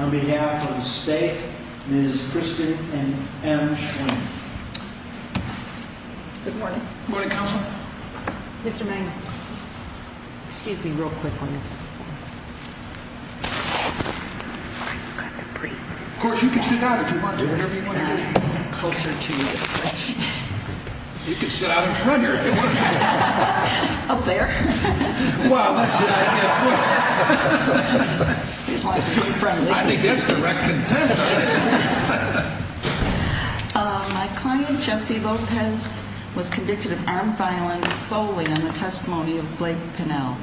On behalf of the state, Ms. Kristen and Ms. Schwinn. Good morning. Good morning, Counselor. Mr. Magna. Excuse me real quick on this. Of course, you can sit down if you want to. You can sit out in front of her if you want to. Up there? My client, Jesse Lopez, was convicted of armed violence solely on the testimony of Blake Pennell.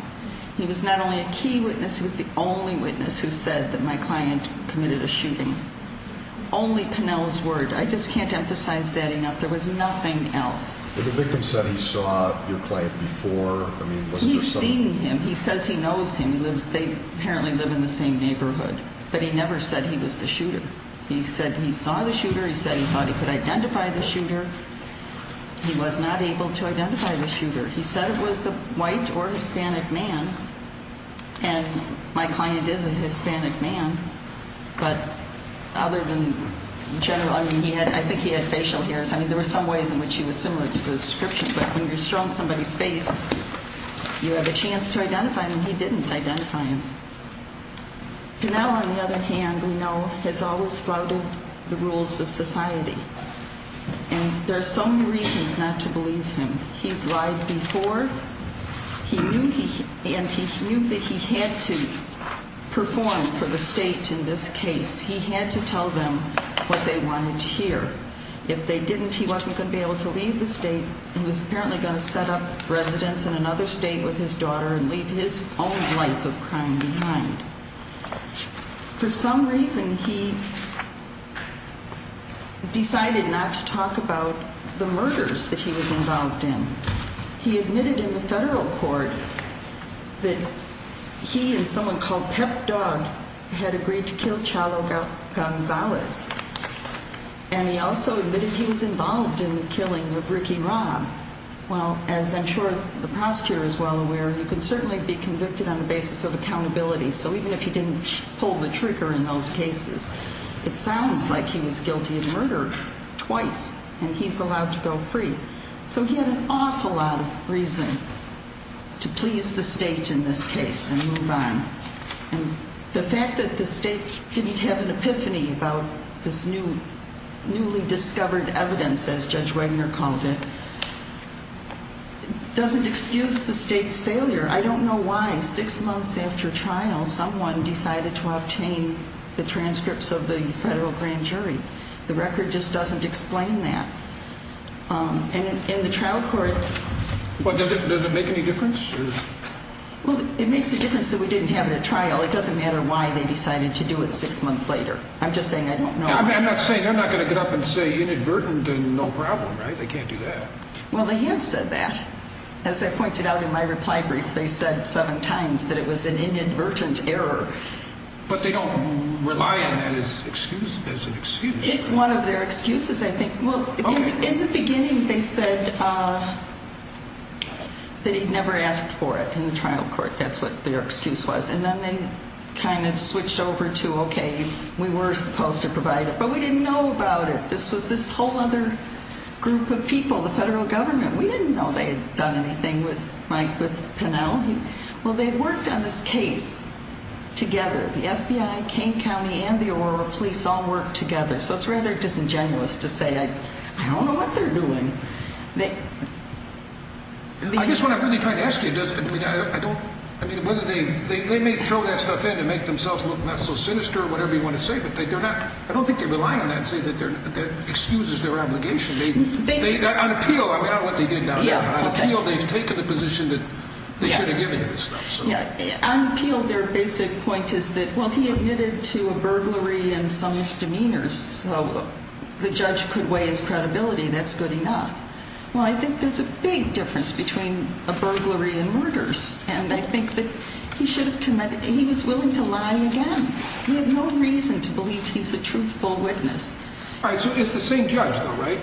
He was not only a key witness, he was the only witness who said that my client committed a shooting. Only Pennell's word. I just can't emphasize that enough. There was nothing else. The victim said he saw your client before. I mean, he's seen him. He says he knows him. He lives. They apparently live in the same neighborhood, but he never said he was the shooter. He said he saw the shooter. He said he thought he could identify the shooter. He was not able to identify the shooter. He said it was a white or Hispanic man. And my client is a Hispanic man. But other than general, I mean, he had I think he had facial hairs. I mean, there were some ways in which he was similar to the description. But when you're shown somebody's face, you have a chance to identify him. And he didn't identify him. Pennell, on the other hand, we know, has always flouted the rules of society. And there are so many reasons not to believe him. He's lied before. He knew he and he knew that he had to perform for the state in this case. He had to tell them what they wanted to hear. If they didn't, he wasn't going to be able to leave the state. He was apparently going to set up residence in another state with his daughter and leave his own life of crime behind. For some reason, he decided not to talk about the murders that he was involved in. He admitted in the federal court that he and someone called Pep Dog had agreed to kill Chalo Gonzalez. And he also admitted he was involved in the killing of Ricky Robb. Well, as I'm sure the prosecutor is well aware, you can certainly be convicted on the basis of accountability. So even if he didn't pull the trigger in those cases, it sounds like he was guilty of murder twice and he's allowed to go free. So he had an awful lot of reason to please the state in this case and move on. And the fact that the state didn't have an epiphany about this new newly discovered evidence, as Judge Wagner called it, doesn't excuse the state's failure. I don't know why six months after trial, someone decided to obtain the transcripts of the federal grand jury. The record just doesn't explain that. And in the trial court... Well, does it make any difference? Well, it makes a difference that we didn't have it at trial. It doesn't matter why they decided to do it six months later. I'm just saying I don't know. I'm not saying they're not going to get up and say inadvertent and no problem, right? They can't do that. Well, they have said that. As I pointed out in my reply brief, they said seven times that it was an inadvertent error. But they don't rely on that as an excuse. It's one of their excuses, I think. In the beginning, they said that he'd never asked for it in the trial court. That's what their excuse was. And then they kind of switched over to, okay, we were supposed to provide it, but we didn't know about it. This was this whole other group of people, the federal government. We didn't know they had done anything with Pennell. Well, they worked on this case together. The FBI, Kane County, and the Aurora Police all worked together. So it's rather disingenuous to say I don't know what they're doing. I guess what I'm really trying to ask you is whether they may throw that stuff in to make themselves look not so sinister or whatever you want to say, but I don't think they rely on that and say that excuses their obligation. On appeal, I don't know what they did. On appeal, they've taken the position that they should have given him this stuff. On appeal, their basic point is that, well, he admitted to a burglary and some misdemeanors, so the judge could weigh his credibility. That's good enough. Well, I think there's a big difference between a burglary and murders, and I think that he should have committed. He was willing to lie again. He had no reason to believe he's a truthful witness. All right, so it's the same judge, though, right?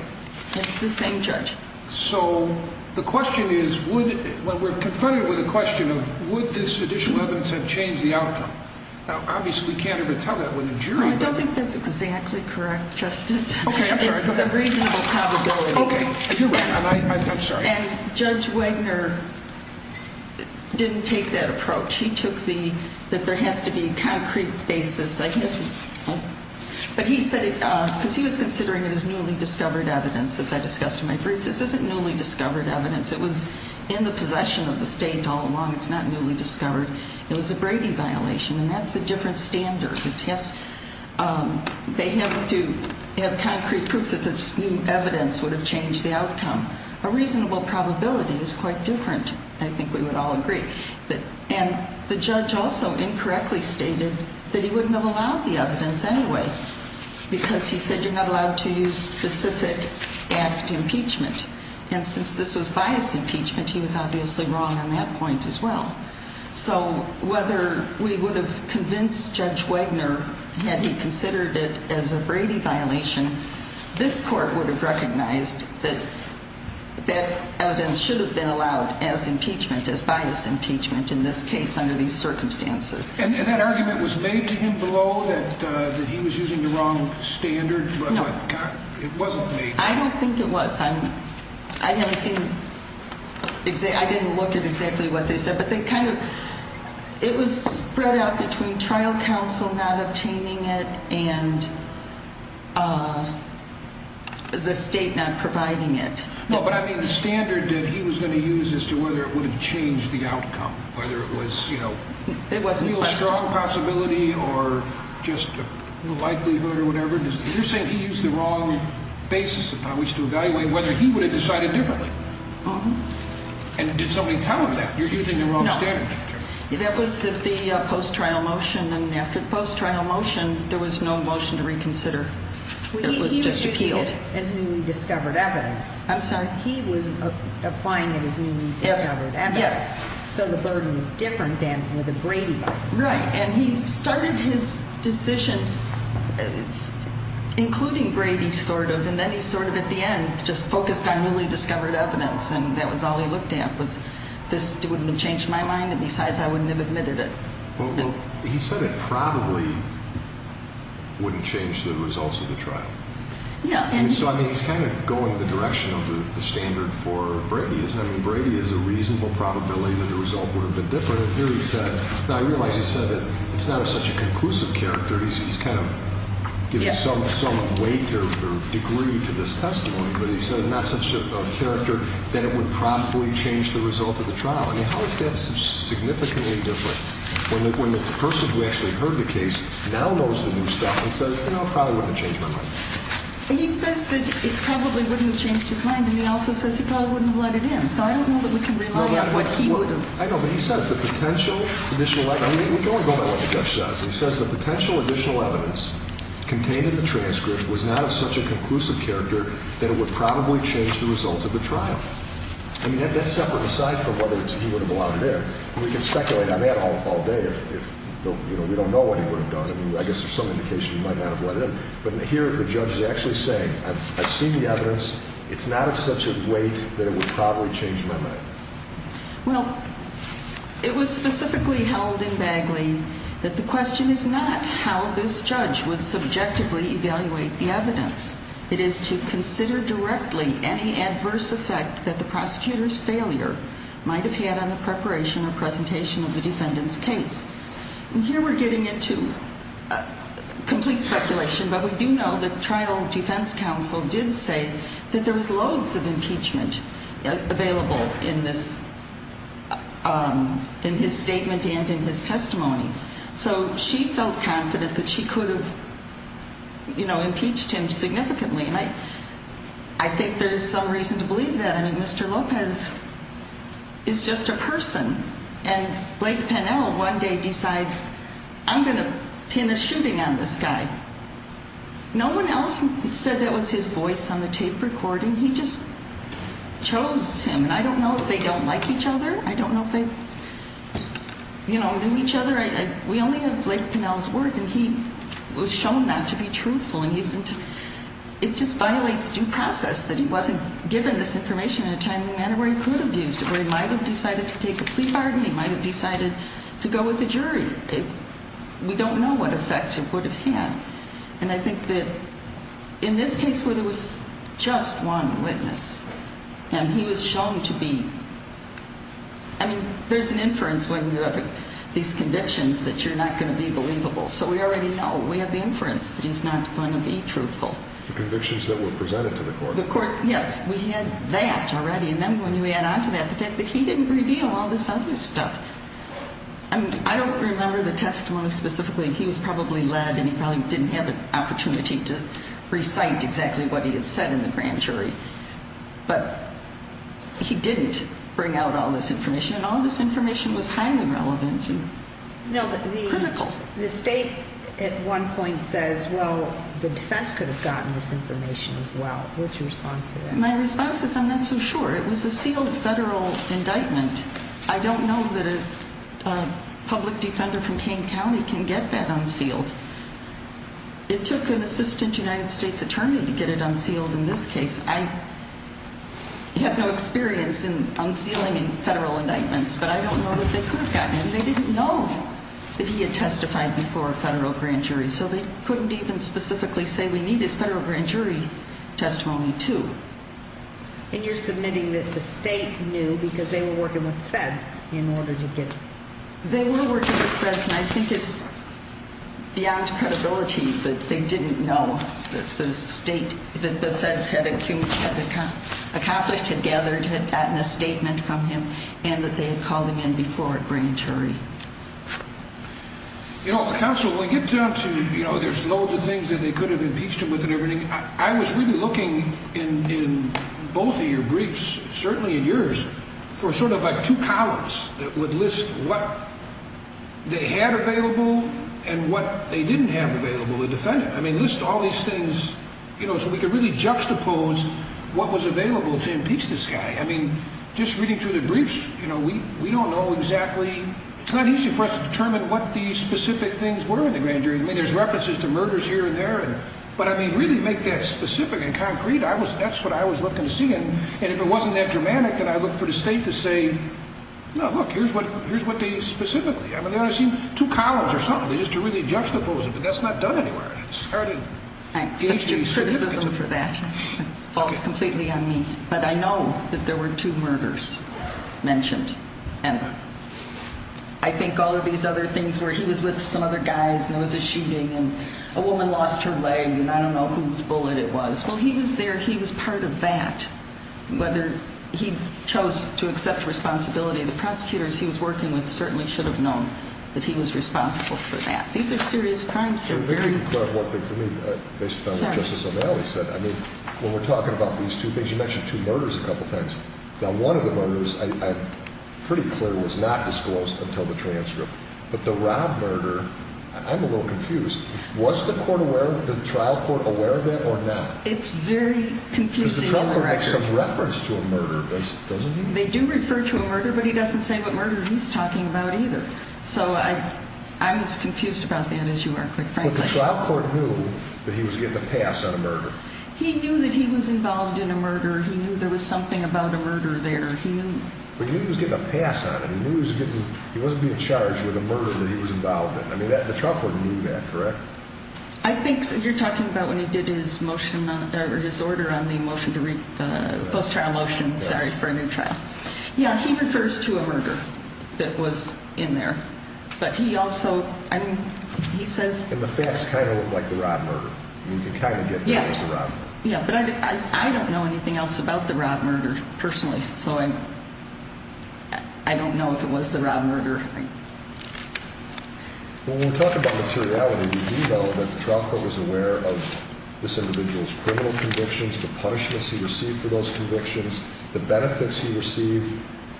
It's the same judge. So the question is, when we're confronted with a question of would this judicial evidence have changed the outcome? Now, obviously, we can't ever tell that with a jury. I don't think that's exactly correct, Justice. Okay, I'm sorry. It's the reasonable probability. Okay, you're right, and I'm sorry. And Judge Wagner didn't take that approach. He took the that there has to be a concrete basis. But he said it because he was considering it as newly discovered evidence, as I discussed in my brief. This isn't newly discovered evidence. It was in the possession of the state all along. It's not newly discovered. It was a Brady violation, and that's a different standard. They have to have concrete proof that this new evidence would have changed the outcome. A reasonable probability is quite different. I think we would all agree. And the judge also incorrectly stated that he wouldn't have allowed the evidence anyway because he said you're not allowed to use specific act impeachment. And since this was bias impeachment, he was obviously wrong on that point as well. So whether we would have convinced Judge Wagner had he considered it as a Brady violation, this court would have recognized that that evidence should have been allowed as impeachment, as bias impeachment in this case under these circumstances. And that argument was made to him below that he was using the wrong standard. But it wasn't me. I don't think it was. I haven't seen it. I didn't look at exactly what they said, but they kind of it was spread out between trial counsel not obtaining it and the state not providing it. No, but I mean, the standard that he was going to use as to whether it would have changed the outcome, whether it was, you know, it wasn't strong possibility or just likelihood or whatever. You're saying he used the wrong basis upon which to evaluate whether he would have decided differently. And did somebody tell him that you're using the wrong standard? That was the post trial motion. And after the post trial motion, there was no motion to reconsider. It was just appealed as newly discovered evidence. I'm sorry. He was applying it as newly discovered. Yes. So the burden is different than with a Brady. Right. And he started his decisions, including Brady, sort of. And then he sort of at the end just focused on newly discovered evidence. And that was all he looked at was this wouldn't have changed my mind. And besides, I wouldn't have admitted it. Well, he said it probably wouldn't change the results of the trial. Yeah. And so, I mean, he's kind of going in the direction of the standard for Brady, isn't he? I mean, Brady is a reasonable probability that the result would have been different. Here he said, now I realize he said that it's not such a conclusive character. He's kind of giving some weight or degree to this testimony. But he said it's not such a character that it would probably change the result of the trial. I mean, how is that significantly different when it's a person who actually heard the case, now knows the new stuff, and says, you know, it probably wouldn't have changed my mind. He says that it probably wouldn't have changed his mind. And he also says he probably wouldn't have let it in. So I don't know that we can rely on what he would have. I know, but he says the potential additional evidence. We can't go by what the judge says. He says the potential additional evidence contained in the transcript was not of such a conclusive character that it would probably change the results of the trial. I mean, that's separate aside from whether he would have allowed it in. We can speculate on that all day if, you know, we don't know what he would have done. I mean, I guess there's some indication he might not have let it in. But here the judge is actually saying, I've seen the evidence. It's not of such a weight that it would probably change my mind. Well, it was specifically held in Bagley that the question is not how this judge would subjectively evaluate the evidence. It is to consider directly any adverse effect that the prosecutor's failure might have had on the preparation or presentation of the defendant's case. And here we're getting into complete speculation. But we do know that trial defense counsel did say that there was loads of impeachment available in this, in his statement and in his testimony. So she felt confident that she could have, you know, impeached him significantly. And I think there's some reason to believe that. I mean, Mr. Lopez is just a person. And Blake Pennell one day decides, I'm going to pin a shooting on this guy. No one else said that was his voice on the tape recording. He just chose him. And I don't know if they don't like each other. I don't know if they, you know, knew each other. We only have Blake Pennell's work. And he was shown not to be truthful. It just violates due process that he wasn't given this information in a timely manner where he could have used it. Or he might have decided to take a plea bargain. He might have decided to go with the jury. We don't know what effect it would have had. And I think that in this case where there was just one witness and he was shown to be, I mean, there's an inference when you have these convictions that you're not going to be believable. So we already know. We have the inference that he's not going to be truthful. The convictions that were presented to the court. Yes, we had that already. And then when you add on to that the fact that he didn't reveal all this other stuff. I mean, I don't remember the testimony specifically. He was probably led and he probably didn't have an opportunity to recite exactly what he had said in the grand jury. But he didn't bring out all this information. And all this information was highly relevant and critical. The state at one point says, well, the defense could have gotten this information as well. What's your response to that? My response is I'm not so sure. It was a sealed federal indictment. I don't know that a public defender from Kane County can get that unsealed. It took an assistant United States attorney to get it unsealed in this case. I have no experience in unsealing federal indictments, but I don't know that they could have gotten it. And they didn't know that he had testified before a federal grand jury. So they couldn't even specifically say we need this federal grand jury testimony, too. And you're submitting that the state knew because they were working with feds in order to get it. They were working with feds, and I think it's beyond credibility that they didn't know that the state, that the feds had accomplished, had gathered, had gotten a statement from him, and that they had called him in before at grand jury. You know, counsel, when we get down to, you know, there's loads of things that they could have impeached him with and everything. I was really looking in both of your briefs, certainly in yours, for sort of like two columns that would list what they had available and what they didn't have available, the defendant. I mean, list all these things, you know, so we could really juxtapose what was available to impeach this guy. I mean, just reading through the briefs, you know, we don't know exactly. It's not easy for us to determine what the specific things were in the grand jury. I mean, there's references to murders here and there. But, I mean, really make that specific and concrete. That's what I was looking to see. And if it wasn't that dramatic, then I'd look for the state to say, no, look, here's what they specifically. I mean, they only seem two columns or something just to really juxtapose it. But that's not done anywhere. It's hard to be specific. It falls completely on me. But I know that there were two murders mentioned. And I think all of these other things where he was with some other guys and there was a shooting and a woman lost her leg and I don't know whose bullet it was. Well, he was there. He was part of that, whether he chose to accept responsibility. The prosecutors he was working with certainly should have known that he was responsible for that. These are serious crimes. Based on what Justice O'Malley said, I mean, when we're talking about these two things, you mentioned two murders a couple of times. Now, one of the murders I'm pretty clear was not disclosed until the transcript. But the Rob murder, I'm a little confused. Was the trial court aware of that or not? It's very confusing. Because the trial court makes some reference to a murder, doesn't it? They do refer to a murder, but he doesn't say what murder he's talking about either. So I'm as confused about that as you are, quite frankly. But the trial court knew that he was getting a pass on a murder. He knew that he was involved in a murder. He knew there was something about a murder there. But he knew he was getting a pass on it. He knew he wasn't being charged with a murder that he was involved in. I mean, the trial court knew that, correct? I think you're talking about when he did his order on the post-trial motion for a new trial. Yeah, he refers to a murder that was in there. But he also, I mean, he says... And the facts kind of look like the Rob murder. You can kind of get that it was the Rob murder. Yeah, but I don't know anything else about the Rob murder, personally. So I don't know if it was the Rob murder. When we talk about materiality, do we know that the trial court was aware of this individual's criminal convictions, the punishments he received for those convictions, the benefits he received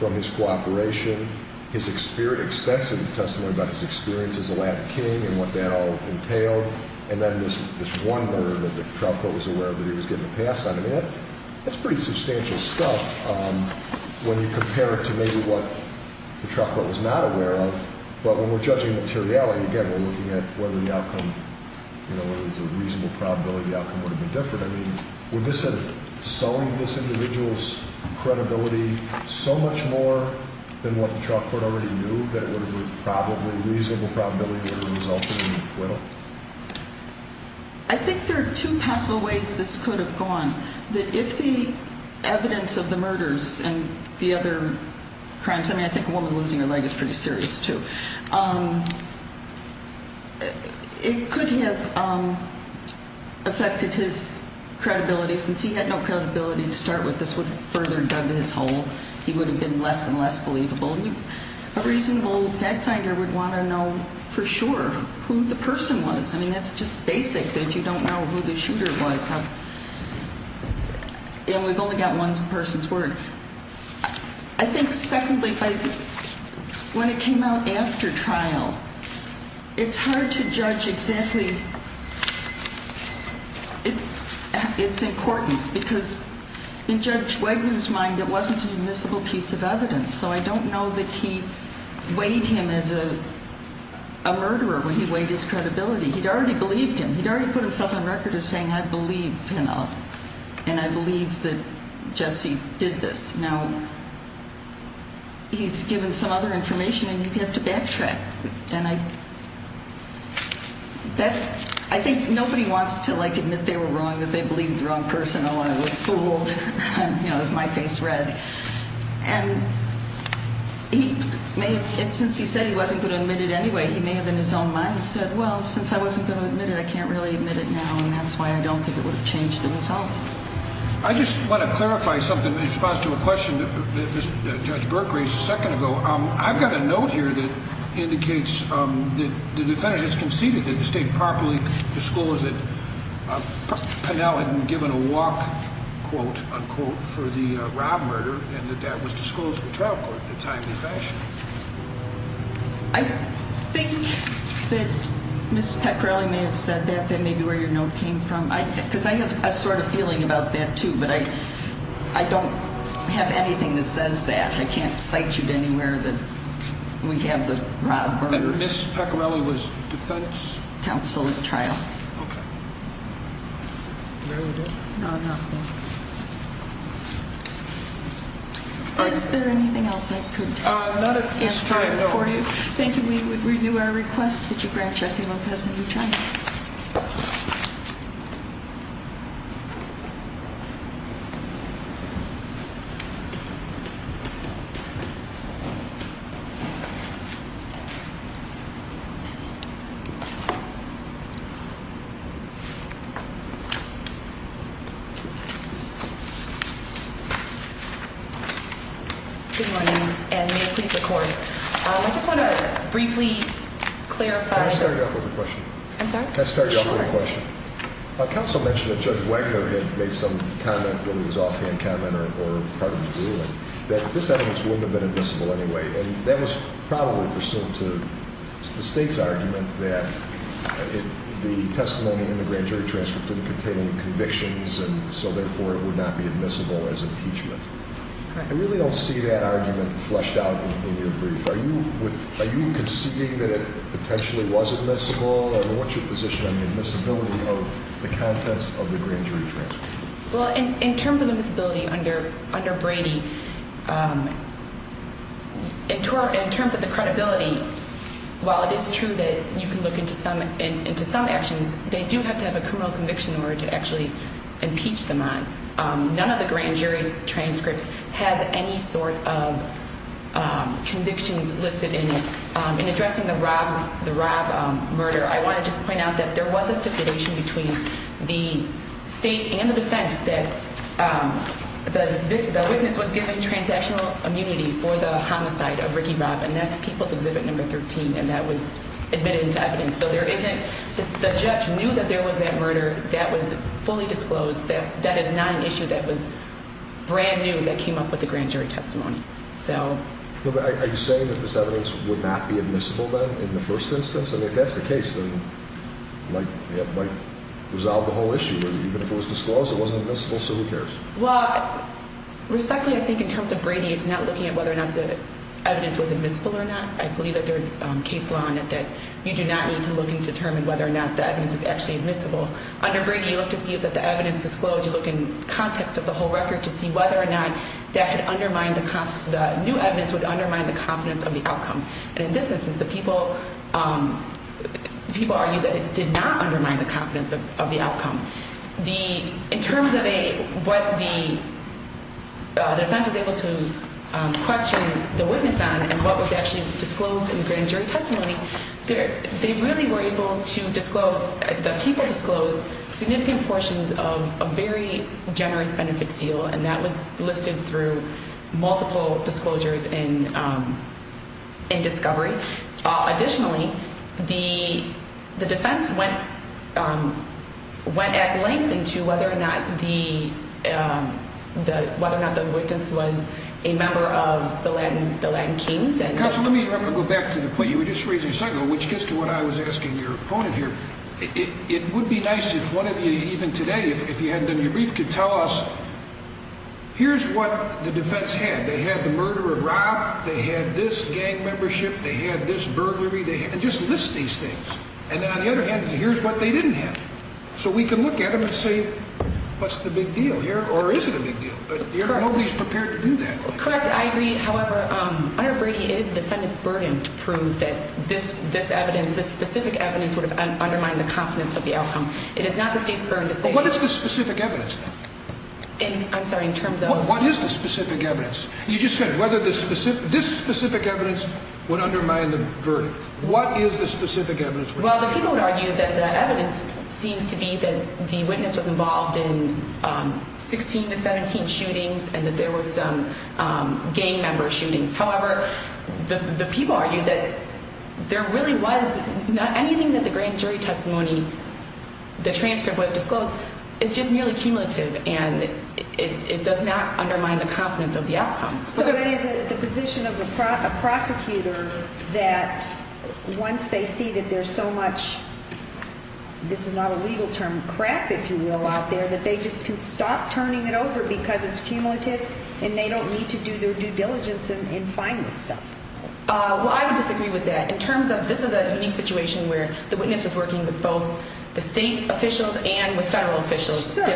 from his cooperation, his extensive testimony about his experience as a Latin king and what that all entailed, and then this one murder that the trial court was aware that he was getting a pass on? I mean, that's pretty substantial stuff when you compare it to maybe what the trial court was not aware of. But when we're judging materiality, again, we're looking at whether the outcome, whether there's a reasonable probability the outcome would have been different. I mean, would this have sown this individual's credibility so much more than what the trial court already knew that it would have been probably reasonable probability that it would have resulted in Will? I think there are two possible ways this could have gone, that if the evidence of the murders and the other crimes, I mean, I think a woman losing her leg is pretty serious, too. It could have affected his credibility. Since he had no credibility to start with, this would have further dug his hole. He would have been less and less believable. A reasonable fact finder would want to know for sure who the person was. I mean, that's just basic that if you don't know who the shooter was, and we've only got one person's word. I think secondly, when it came out after trial, it's hard to judge exactly its importance because in Judge Wagner's mind, it wasn't a miscible piece of evidence. So I don't know that he weighed him as a murderer when he weighed his credibility. He'd already believed him. He'd already put himself on record as saying, I believe Pennell, and I believe that Jesse did this. Now, he's given some other information, and you'd have to backtrack. And I think nobody wants to admit they were wrong, that they believed the wrong person, or I was fooled, you know, it was my face read. And since he said he wasn't going to admit it anyway, he may have in his own mind said, well, since I wasn't going to admit it, I can't really admit it now, and that's why I don't think it would have changed the result. I just want to clarify something in response to a question that Judge Burke raised a second ago. I've got a note here that indicates that the defendant has conceded that the state properly disclosed that Pennell had been given a walk, quote, unquote, for the rob murder, and that that was disclosed to the trial court in a timely fashion. I think that Ms. Pecorelli may have said that, that may be where your note came from, because I have a sort of feeling about that, too, but I don't have anything that says that. I can't cite you to anywhere that we have the rob murder. And Ms. Pecorelli was defense? Counsel at trial. Okay. Very good. No, not good. Is there anything else I could tell you? Not at this time, no. Thank you. We would renew our request that you grant Jesse Lopez a new trial. Thank you. Good morning, and may it please the court. I just want to briefly clarify. Can I start you off with a question? I'm sorry? Can I start you off with a question? Sure. Counsel mentioned that Judge Wagner had made some comment, whether it was offhand comment or part of his ruling, that this evidence wouldn't have been admissible anyway, and that was probably pursuant to the state's argument that the testimony in the grand jury transcript didn't contain any convictions, and so therefore it would not be admissible as impeachment. Correct. I really don't see that argument fleshed out in your brief. Are you conceding that it potentially was admissible? What's your position on the admissibility of the contents of the grand jury transcript? Well, in terms of admissibility under Brady, in terms of the credibility, while it is true that you can look into some actions, they do have to have a criminal conviction in order to actually impeach them on. None of the grand jury transcripts has any sort of convictions listed in it. In addressing the Robb murder, I want to just point out that there was a stipulation between the state and the defense that the witness was given transactional immunity for the homicide of Ricky Robb, and that's People's Exhibit Number 13, and that was admitted into evidence. The judge knew that there was that murder that was fully disclosed. That is not an issue that was brand new that came up with the grand jury testimony. Are you saying that this evidence would not be admissible then in the first instance? If that's the case, then it might resolve the whole issue. Even if it was disclosed, it wasn't admissible, so who cares? Respectfully, I think in terms of Brady, it's not looking at whether or not the evidence was admissible or not. I believe that there is case law in it that you do not need to look and determine whether or not the evidence is actually admissible. Under Brady, you look to see if the evidence is disclosed. You look in context of the whole record to see whether or not the new evidence would undermine the confidence of the outcome. And in this instance, the people argue that it did not undermine the confidence of the outcome. In terms of what the defense was able to question the witness on and what was actually disclosed in the grand jury testimony, they really were able to disclose, the people disclosed significant portions of a very generous benefits deal, and that was listed through multiple disclosures in discovery. Additionally, the defense went at length into whether or not the witness was a member of the Latin Kings. Counsel, let me go back to the point you were just raising a second ago, which gets to what I was asking your opponent here. It would be nice if one of you, even today, if you hadn't done your brief, could tell us, here's what the defense had. They had the murder of Rob, they had this gang membership, they had this burglary, and just list these things. And then on the other hand, here's what they didn't have. So we can look at them and say, what's the big deal here, or is it a big deal? But nobody's prepared to do that. Correct. I agree. However, under Brady, it is the defendant's burden to prove that this evidence, this specific evidence, would have undermined the confidence of the outcome. It is not the state's burden to say that. What is the specific evidence, then? I'm sorry, in terms of? What is the specific evidence? You just said whether this specific evidence would undermine the verdict. What is the specific evidence? Well, the people would argue that the evidence seems to be that the witness was involved in 16 to 17 shootings and that there were some gang member shootings. However, the people argue that there really was not anything that the grand jury testimony, the transcript would have disclosed. It's just merely cumulative, and it does not undermine the confidence of the outcome. So that is the position of a prosecutor that once they see that there's so much, this is not a legal term, crap, if you will, out there, that they just can stop turning it over because it's cumulative and they don't need to do their due diligence and find this stuff. Well, I would disagree with that. In terms of, this is a unique situation where the witness was working with both the state officials and with federal officials. So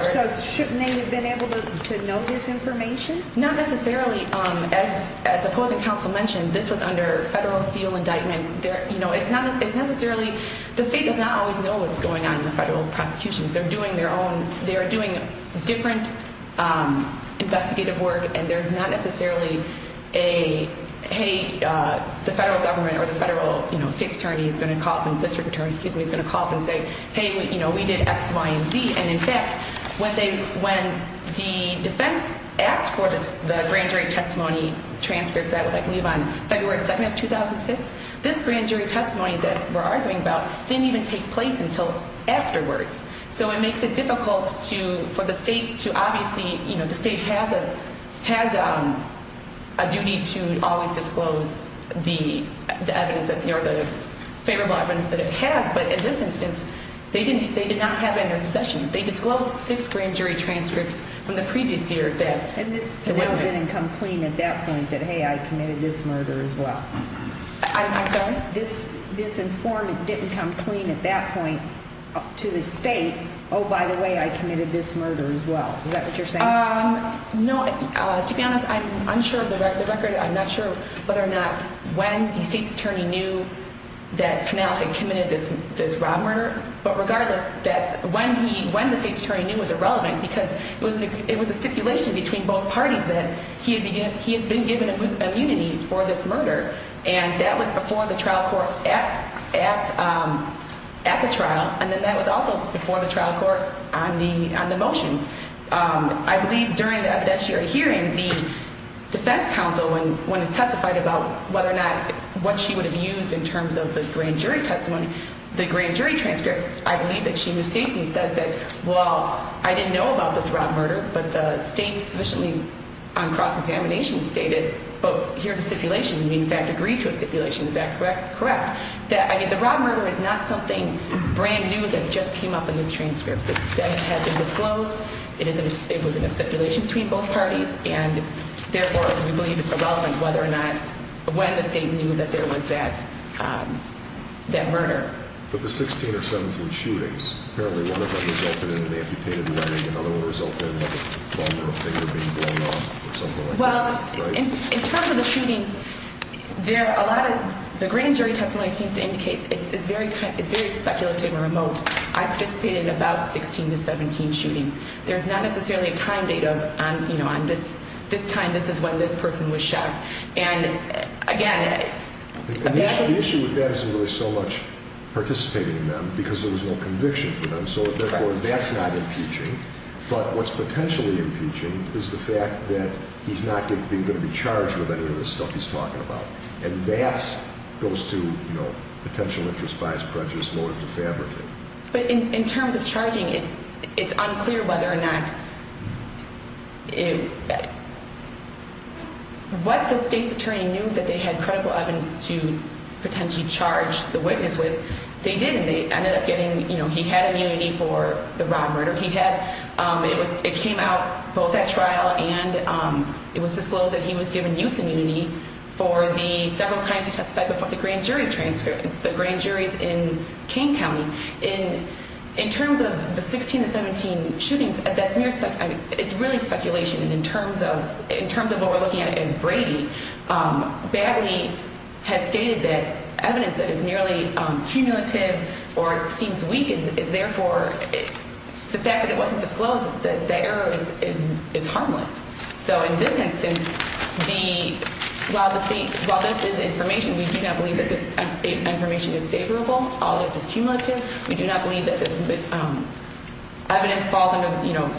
shouldn't they have been able to know this information? Not necessarily. As opposing counsel mentioned, this was under federal seal indictment. It's not necessarily, the state does not always know what's going on in the federal prosecutions. They're doing their own, they are doing different investigative work, and there's not necessarily a, hey, the federal government or the federal state's attorney is going to call them, the district attorney, excuse me, is going to call them and say, hey, we did X, Y, and Z. And in fact, when the defense asked for the grand jury testimony transcripts, that was I believe on February 2nd of 2006, this grand jury testimony that we're arguing about didn't even take place until afterwards. So it makes it difficult for the state to obviously, you know, the state has a duty to always disclose the favorable evidence that it has. But in this instance, they did not have it in their possession. They disclosed six grand jury transcripts from the previous year. And this panel didn't come clean at that point that, hey, I committed this murder as well. I'm sorry? This informant didn't come clean at that point to the state, oh, by the way, I committed this murder as well. Is that what you're saying? No. To be honest, I'm unsure of the record. I'm not sure whether or not when the state's attorney knew that Pennell had committed this rob murder. But regardless, when the state's attorney knew was irrelevant because it was a stipulation between both parties that he had been given immunity for this murder. And that was before the trial court at the trial. And then that was also before the trial court on the motions. I believe during the evidentiary hearing, the defense counsel, when it's testified about whether or not what she would have used in terms of the grand jury testimony, the grand jury transcript, I believe that she misstates and says that, well, I didn't know about this rob murder, but the state sufficiently on cross-examination stated, well, here's a stipulation. You, in fact, agreed to a stipulation. Is that correct? Correct. The rob murder is not something brand new that just came up in this transcript. It had been disclosed. It was in a stipulation between both parties. And therefore, we believe it's irrelevant whether or not when the state knew that there was that murder. But the 16 or 17 shootings, apparently one of them resulted in an amputated leg. Another one resulted in a finger being blown off or something like that. Well, in terms of the shootings, there are a lot of the grand jury testimony seems to indicate it's very speculative and remote. I participated in about 16 to 17 shootings. There's not necessarily a time data on this time. This is when this person was shot. The issue with that isn't really so much participating in them because there was no conviction for them. So, therefore, that's not impeaching. But what's potentially impeaching is the fact that he's not going to be charged with any of the stuff he's talking about. And that goes to potential interest, bias, prejudice, motive, defamatory. But in terms of charging, it's unclear whether or not what the state's attorney knew that they had credible evidence to potentially charge the witness with. They didn't. They ended up getting, you know, he had immunity for the rob murder. He had. It came out both at trial and it was disclosed that he was given use immunity for the several times he testified before the grand jury transcript. The grand jury's in King County. In terms of the 16 to 17 shootings, that's mere speculation. It's really speculation. And in terms of in terms of what we're looking at as Brady badly has stated that evidence that is nearly cumulative or seems weak is therefore the fact that it wasn't disclosed that the error is harmless. So in this instance, while this is information, we do not believe that this information is favorable. All of this is cumulative. We do not believe that this evidence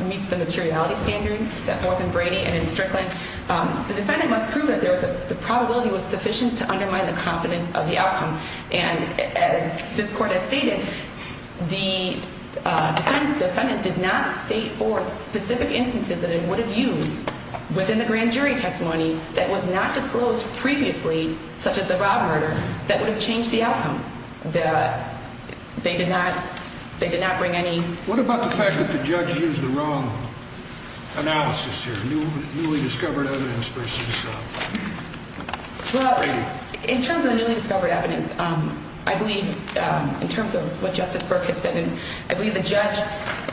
meets the materiality standard set forth in Brady and in Strickland. The defendant must prove that the probability was sufficient to undermine the confidence of the outcome. And as this court has stated, the defendant did not state for specific instances that it would have used within the grand jury testimony that was not disclosed previously, such as the robber. That would have changed the outcome that they did not. They did not bring any. What about the fact that the judge used the wrong analysis here? Newly discovered evidence versus Brady? In terms of newly discovered evidence, I believe in terms of what Justice Burke had said, and I believe the judge,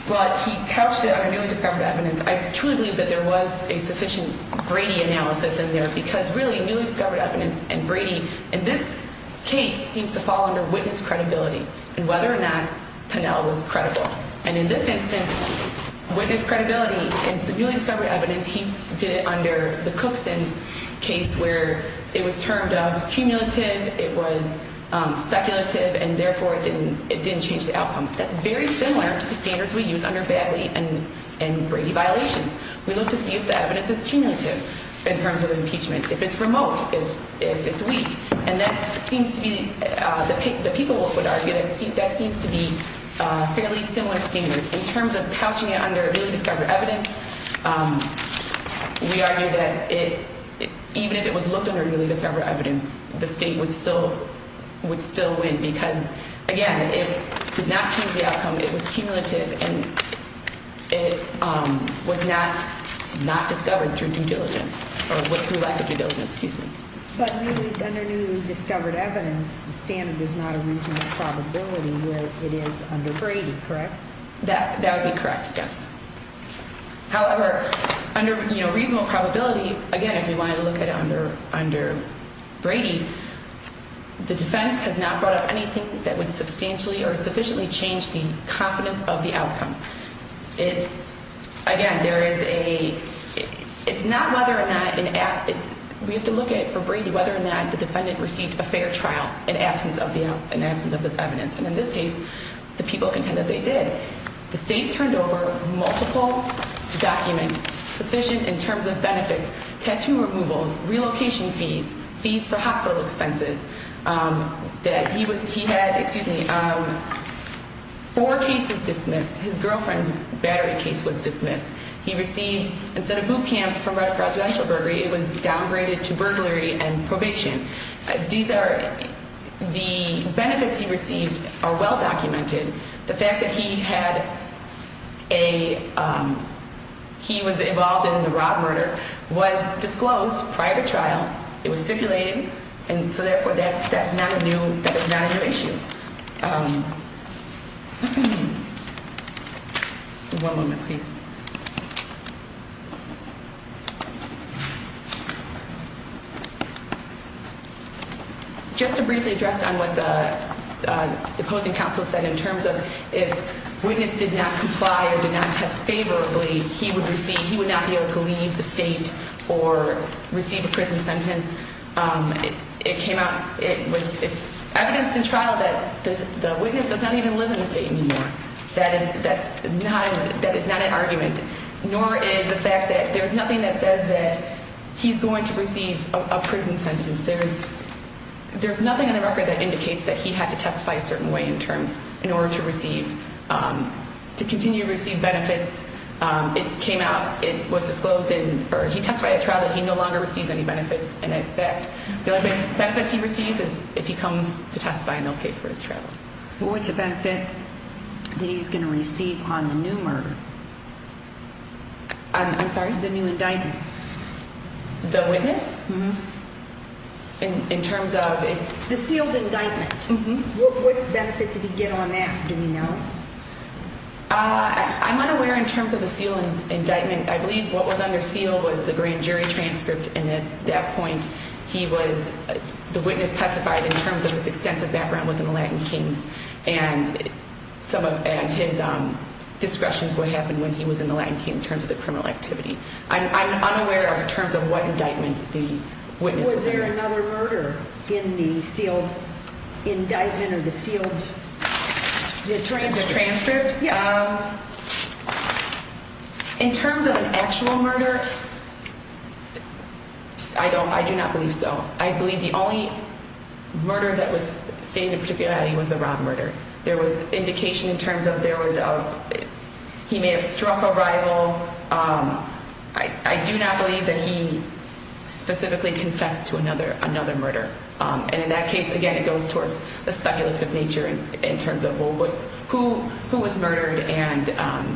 well, he couched it on a newly discovered evidence. I truly believe that there was a sufficient Brady analysis in there because really newly discovered evidence and Brady in this case seems to fall under witness credibility. And whether or not Pinnell was credible. And in this instance, witness credibility in the newly discovered evidence, he did it under the Cookson case where it was termed cumulative, it was speculative, and therefore it didn't change the outcome. That's very similar to the standards we use under Badley and Brady violations. We look to see if the evidence is cumulative in terms of impeachment, if it's remote, if it's weak. And that seems to be the people would argue that that seems to be a fairly similar standard in terms of couching it under newly discovered evidence. We argue that even if it was looked under newly discovered evidence, the state would still would still win because, again, it did not change the outcome. It was cumulative and it was not not discovered through due diligence or through lack of due diligence. Excuse me. But under newly discovered evidence, the standard is not a reasonable probability where it is under Brady, correct? That would be correct, yes. However, under reasonable probability, again, if you want to look at under Brady, the defense has not brought up anything that would substantially or sufficiently change the confidence of the outcome. Again, it's not whether or not we have to look at for Brady whether or not the defendant received a fair trial in absence of this evidence. And in this case, the people contend that they did. The state turned over multiple documents sufficient in terms of benefits, tattoo removals, relocation fees, fees for hospital expenses. He had four cases dismissed. His girlfriend's battery case was dismissed. He received, instead of boot camp for residential burglary, it was downgraded to burglary and probation. These are the benefits he received are well documented. The fact that he had a he was involved in the Robb murder was disclosed prior to trial. It was stipulated. And so therefore, that's that's not a new that is not a new issue. One moment, please. Just to briefly address on what the opposing counsel said in terms of if witness did not comply or did not test favorably, he would see he would not be able to leave the state or receive a prison sentence. It came out it was evidenced in trial that the witness does not even live in the state anymore. That is that that is not an argument, nor is the fact that there is nothing that says that he's going to receive a prison sentence. There is there's nothing in the record that indicates that he had to testify a certain way in terms in order to receive to continue to receive benefits. It came out it was disclosed in or he testified a trial that he no longer receives any benefits. And in fact, the benefits he receives is if he comes to testify and they'll pay for his travel. What's the benefit that he's going to receive on the new murder? I'm sorry. The new indictment. The witness in terms of the sealed indictment. What benefit did he get on that? Uh, I'm unaware in terms of the ceiling indictment. I believe what was under seal was the grand jury transcript. And at that point he was the witness testified in terms of his extensive background within the Latin kings and some of his discretion. What happened when he was in the land came in terms of the criminal activity. I'm unaware of in terms of what indictment the witness was there. Another murder in the sealed indictment of the sealed transcript. Yeah. In terms of an actual murder. I don't I do not believe so. I believe the only murder that was seen in particular that he was around murder. There was indication in terms of there was a he may have struck a rival. I do not believe that he specifically confessed to another another murder. And in that case, again, it goes towards the speculative nature in terms of who who was murdered and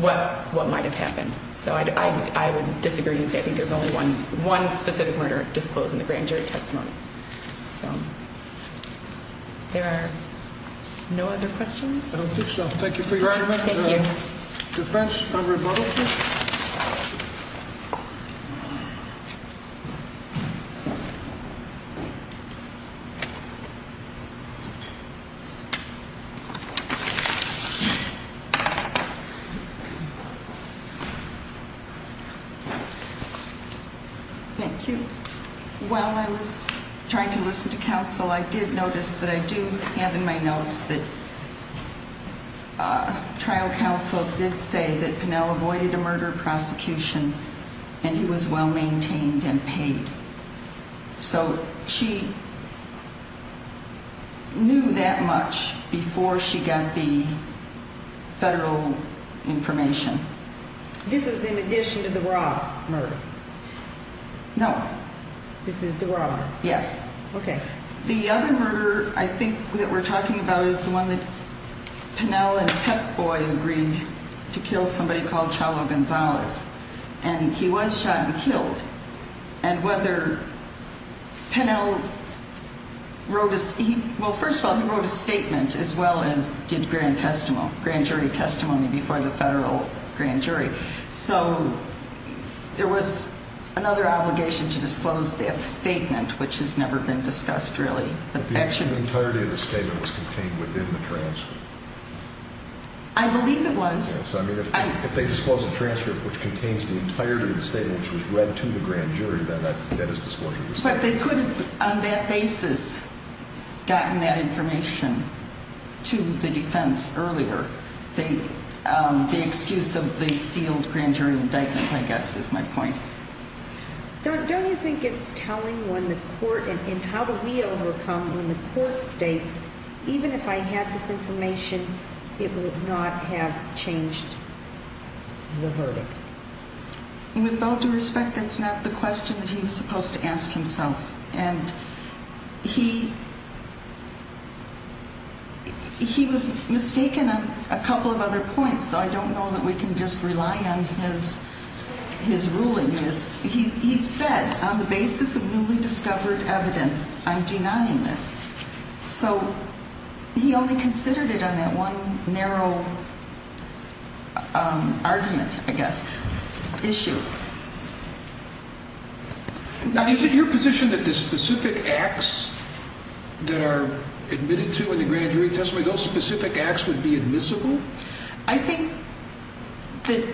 what what might have happened. So I would disagree. I think there's only one one specific murder disclosed in the grand jury testimony. So. There are no other questions. I don't think so. Thank you for your defense. Thank you. Thank you. Well, I was trying to listen to counsel. I did notice that I do have in my notes that trial counsel did say that Penel avoided a murder prosecution and he was well maintained and paid. So she knew that much before she got the federal information. This is in addition to the Rob. No. This is the wrong. Yes. OK. The other murder, I think that we're talking about is the one that Penel and Peck boy agreed to kill somebody called Chalo Gonzalez. And he was shot and killed. And whether Penel wrote, well, first of all, he wrote a statement as well as did grand testimony, grand jury testimony before the federal grand jury. So there was another obligation to disclose that statement, which has never been discussed. Really? Actually, the entirety of the statement was contained within the transcript. I believe it was. So I mean, if they disclose the transcript, which contains the entirety of the statement, which was read to the grand jury, then that is disclosure. But they could have, on that basis, gotten that information to the defense earlier. The excuse of the sealed grand jury indictment, I guess, is my point. Don't you think it's telling when the court and how do we overcome when the court states, even if I had this information, it would not have changed the verdict? With all due respect, that's not the question that he was supposed to ask himself. And he was mistaken on a couple of other points, so I don't know that we can just rely on his ruling. He said, on the basis of newly discovered evidence, I'm denying this. So he only considered it on that one narrow argument, I guess, issue. Now, is it your position that the specific acts that are admitted to in the grand jury testimony, those specific acts would be admissible? I think that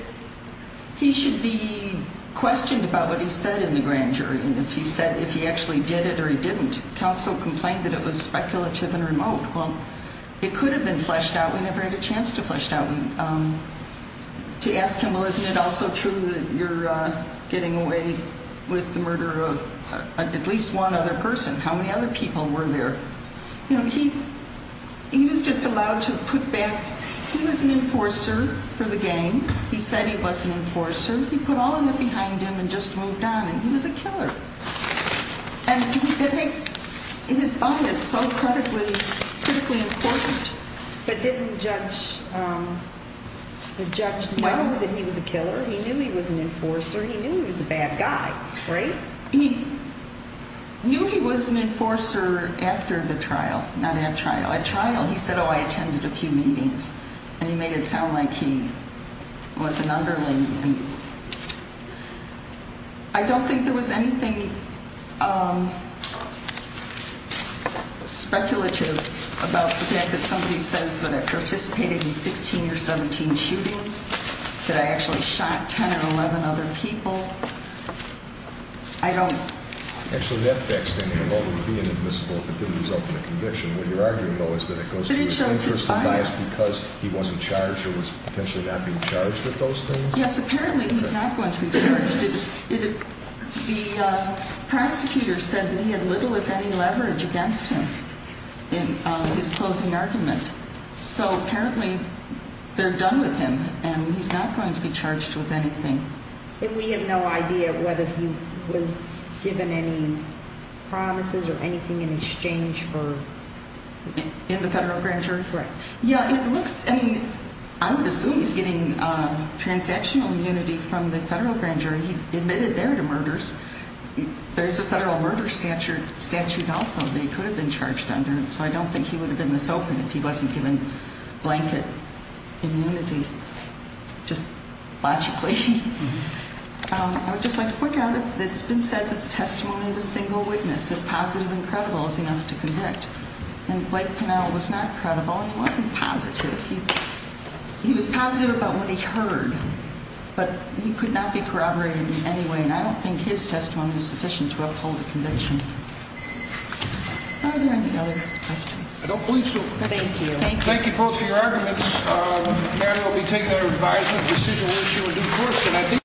he should be questioned about what he said in the grand jury. And if he said, if he actually did it or he didn't, counsel complained that it was speculative and remote. Well, it could have been fleshed out. We never had a chance to flesh it out. To ask him, well, isn't it also true that you're getting away with the murder of at least one other person? How many other people were there? You know, he was just allowed to put back. He was an enforcer for the gang. He said he was an enforcer. He put all of it behind him and just moved on, and he was a killer. And it makes his bias so critically important. But didn't the judge know that he was a killer? He knew he was an enforcer. He knew he was a bad guy, right? He knew he was an enforcer after the trial, not at trial. At trial, he said, oh, I attended a few meetings. And he made it sound like he was an underling. I don't think there was anything speculative about the fact that somebody says that I participated in 16 or 17 shootings, that I actually shot 10 or 11 other people. I don't. Actually, that fact standing alone would be inadmissible if it didn't result in a conviction. But it shows his bias. Because he wasn't charged or was potentially not being charged with those things? Yes, apparently he's not going to be charged. The prosecutor said that he had little, if any, leverage against him in his closing argument. So apparently they're done with him, and he's not going to be charged with anything. And we have no idea whether he was given any promises or anything in exchange for? In the federal grand jury? Right. Yeah, it looks, I mean, I would assume he's getting transactional immunity from the federal grand jury. He admitted there to murders. There's a federal murder statute also that he could have been charged under. So I don't think he would have been this open if he wasn't given blanket immunity, just logically. I would just like to point out that it's been said that the testimony of a single witness, if positive and credible, is enough to convict. And Blake Pinnell was not credible. He wasn't positive. He was positive about what he heard. But he could not be corroborated in any way. And I don't think his testimony was sufficient to uphold the conviction. Are there any other questions? I don't believe so. Thank you. Thank you both for your arguments. The matter will be taken under advisement. The decision will issue a due course.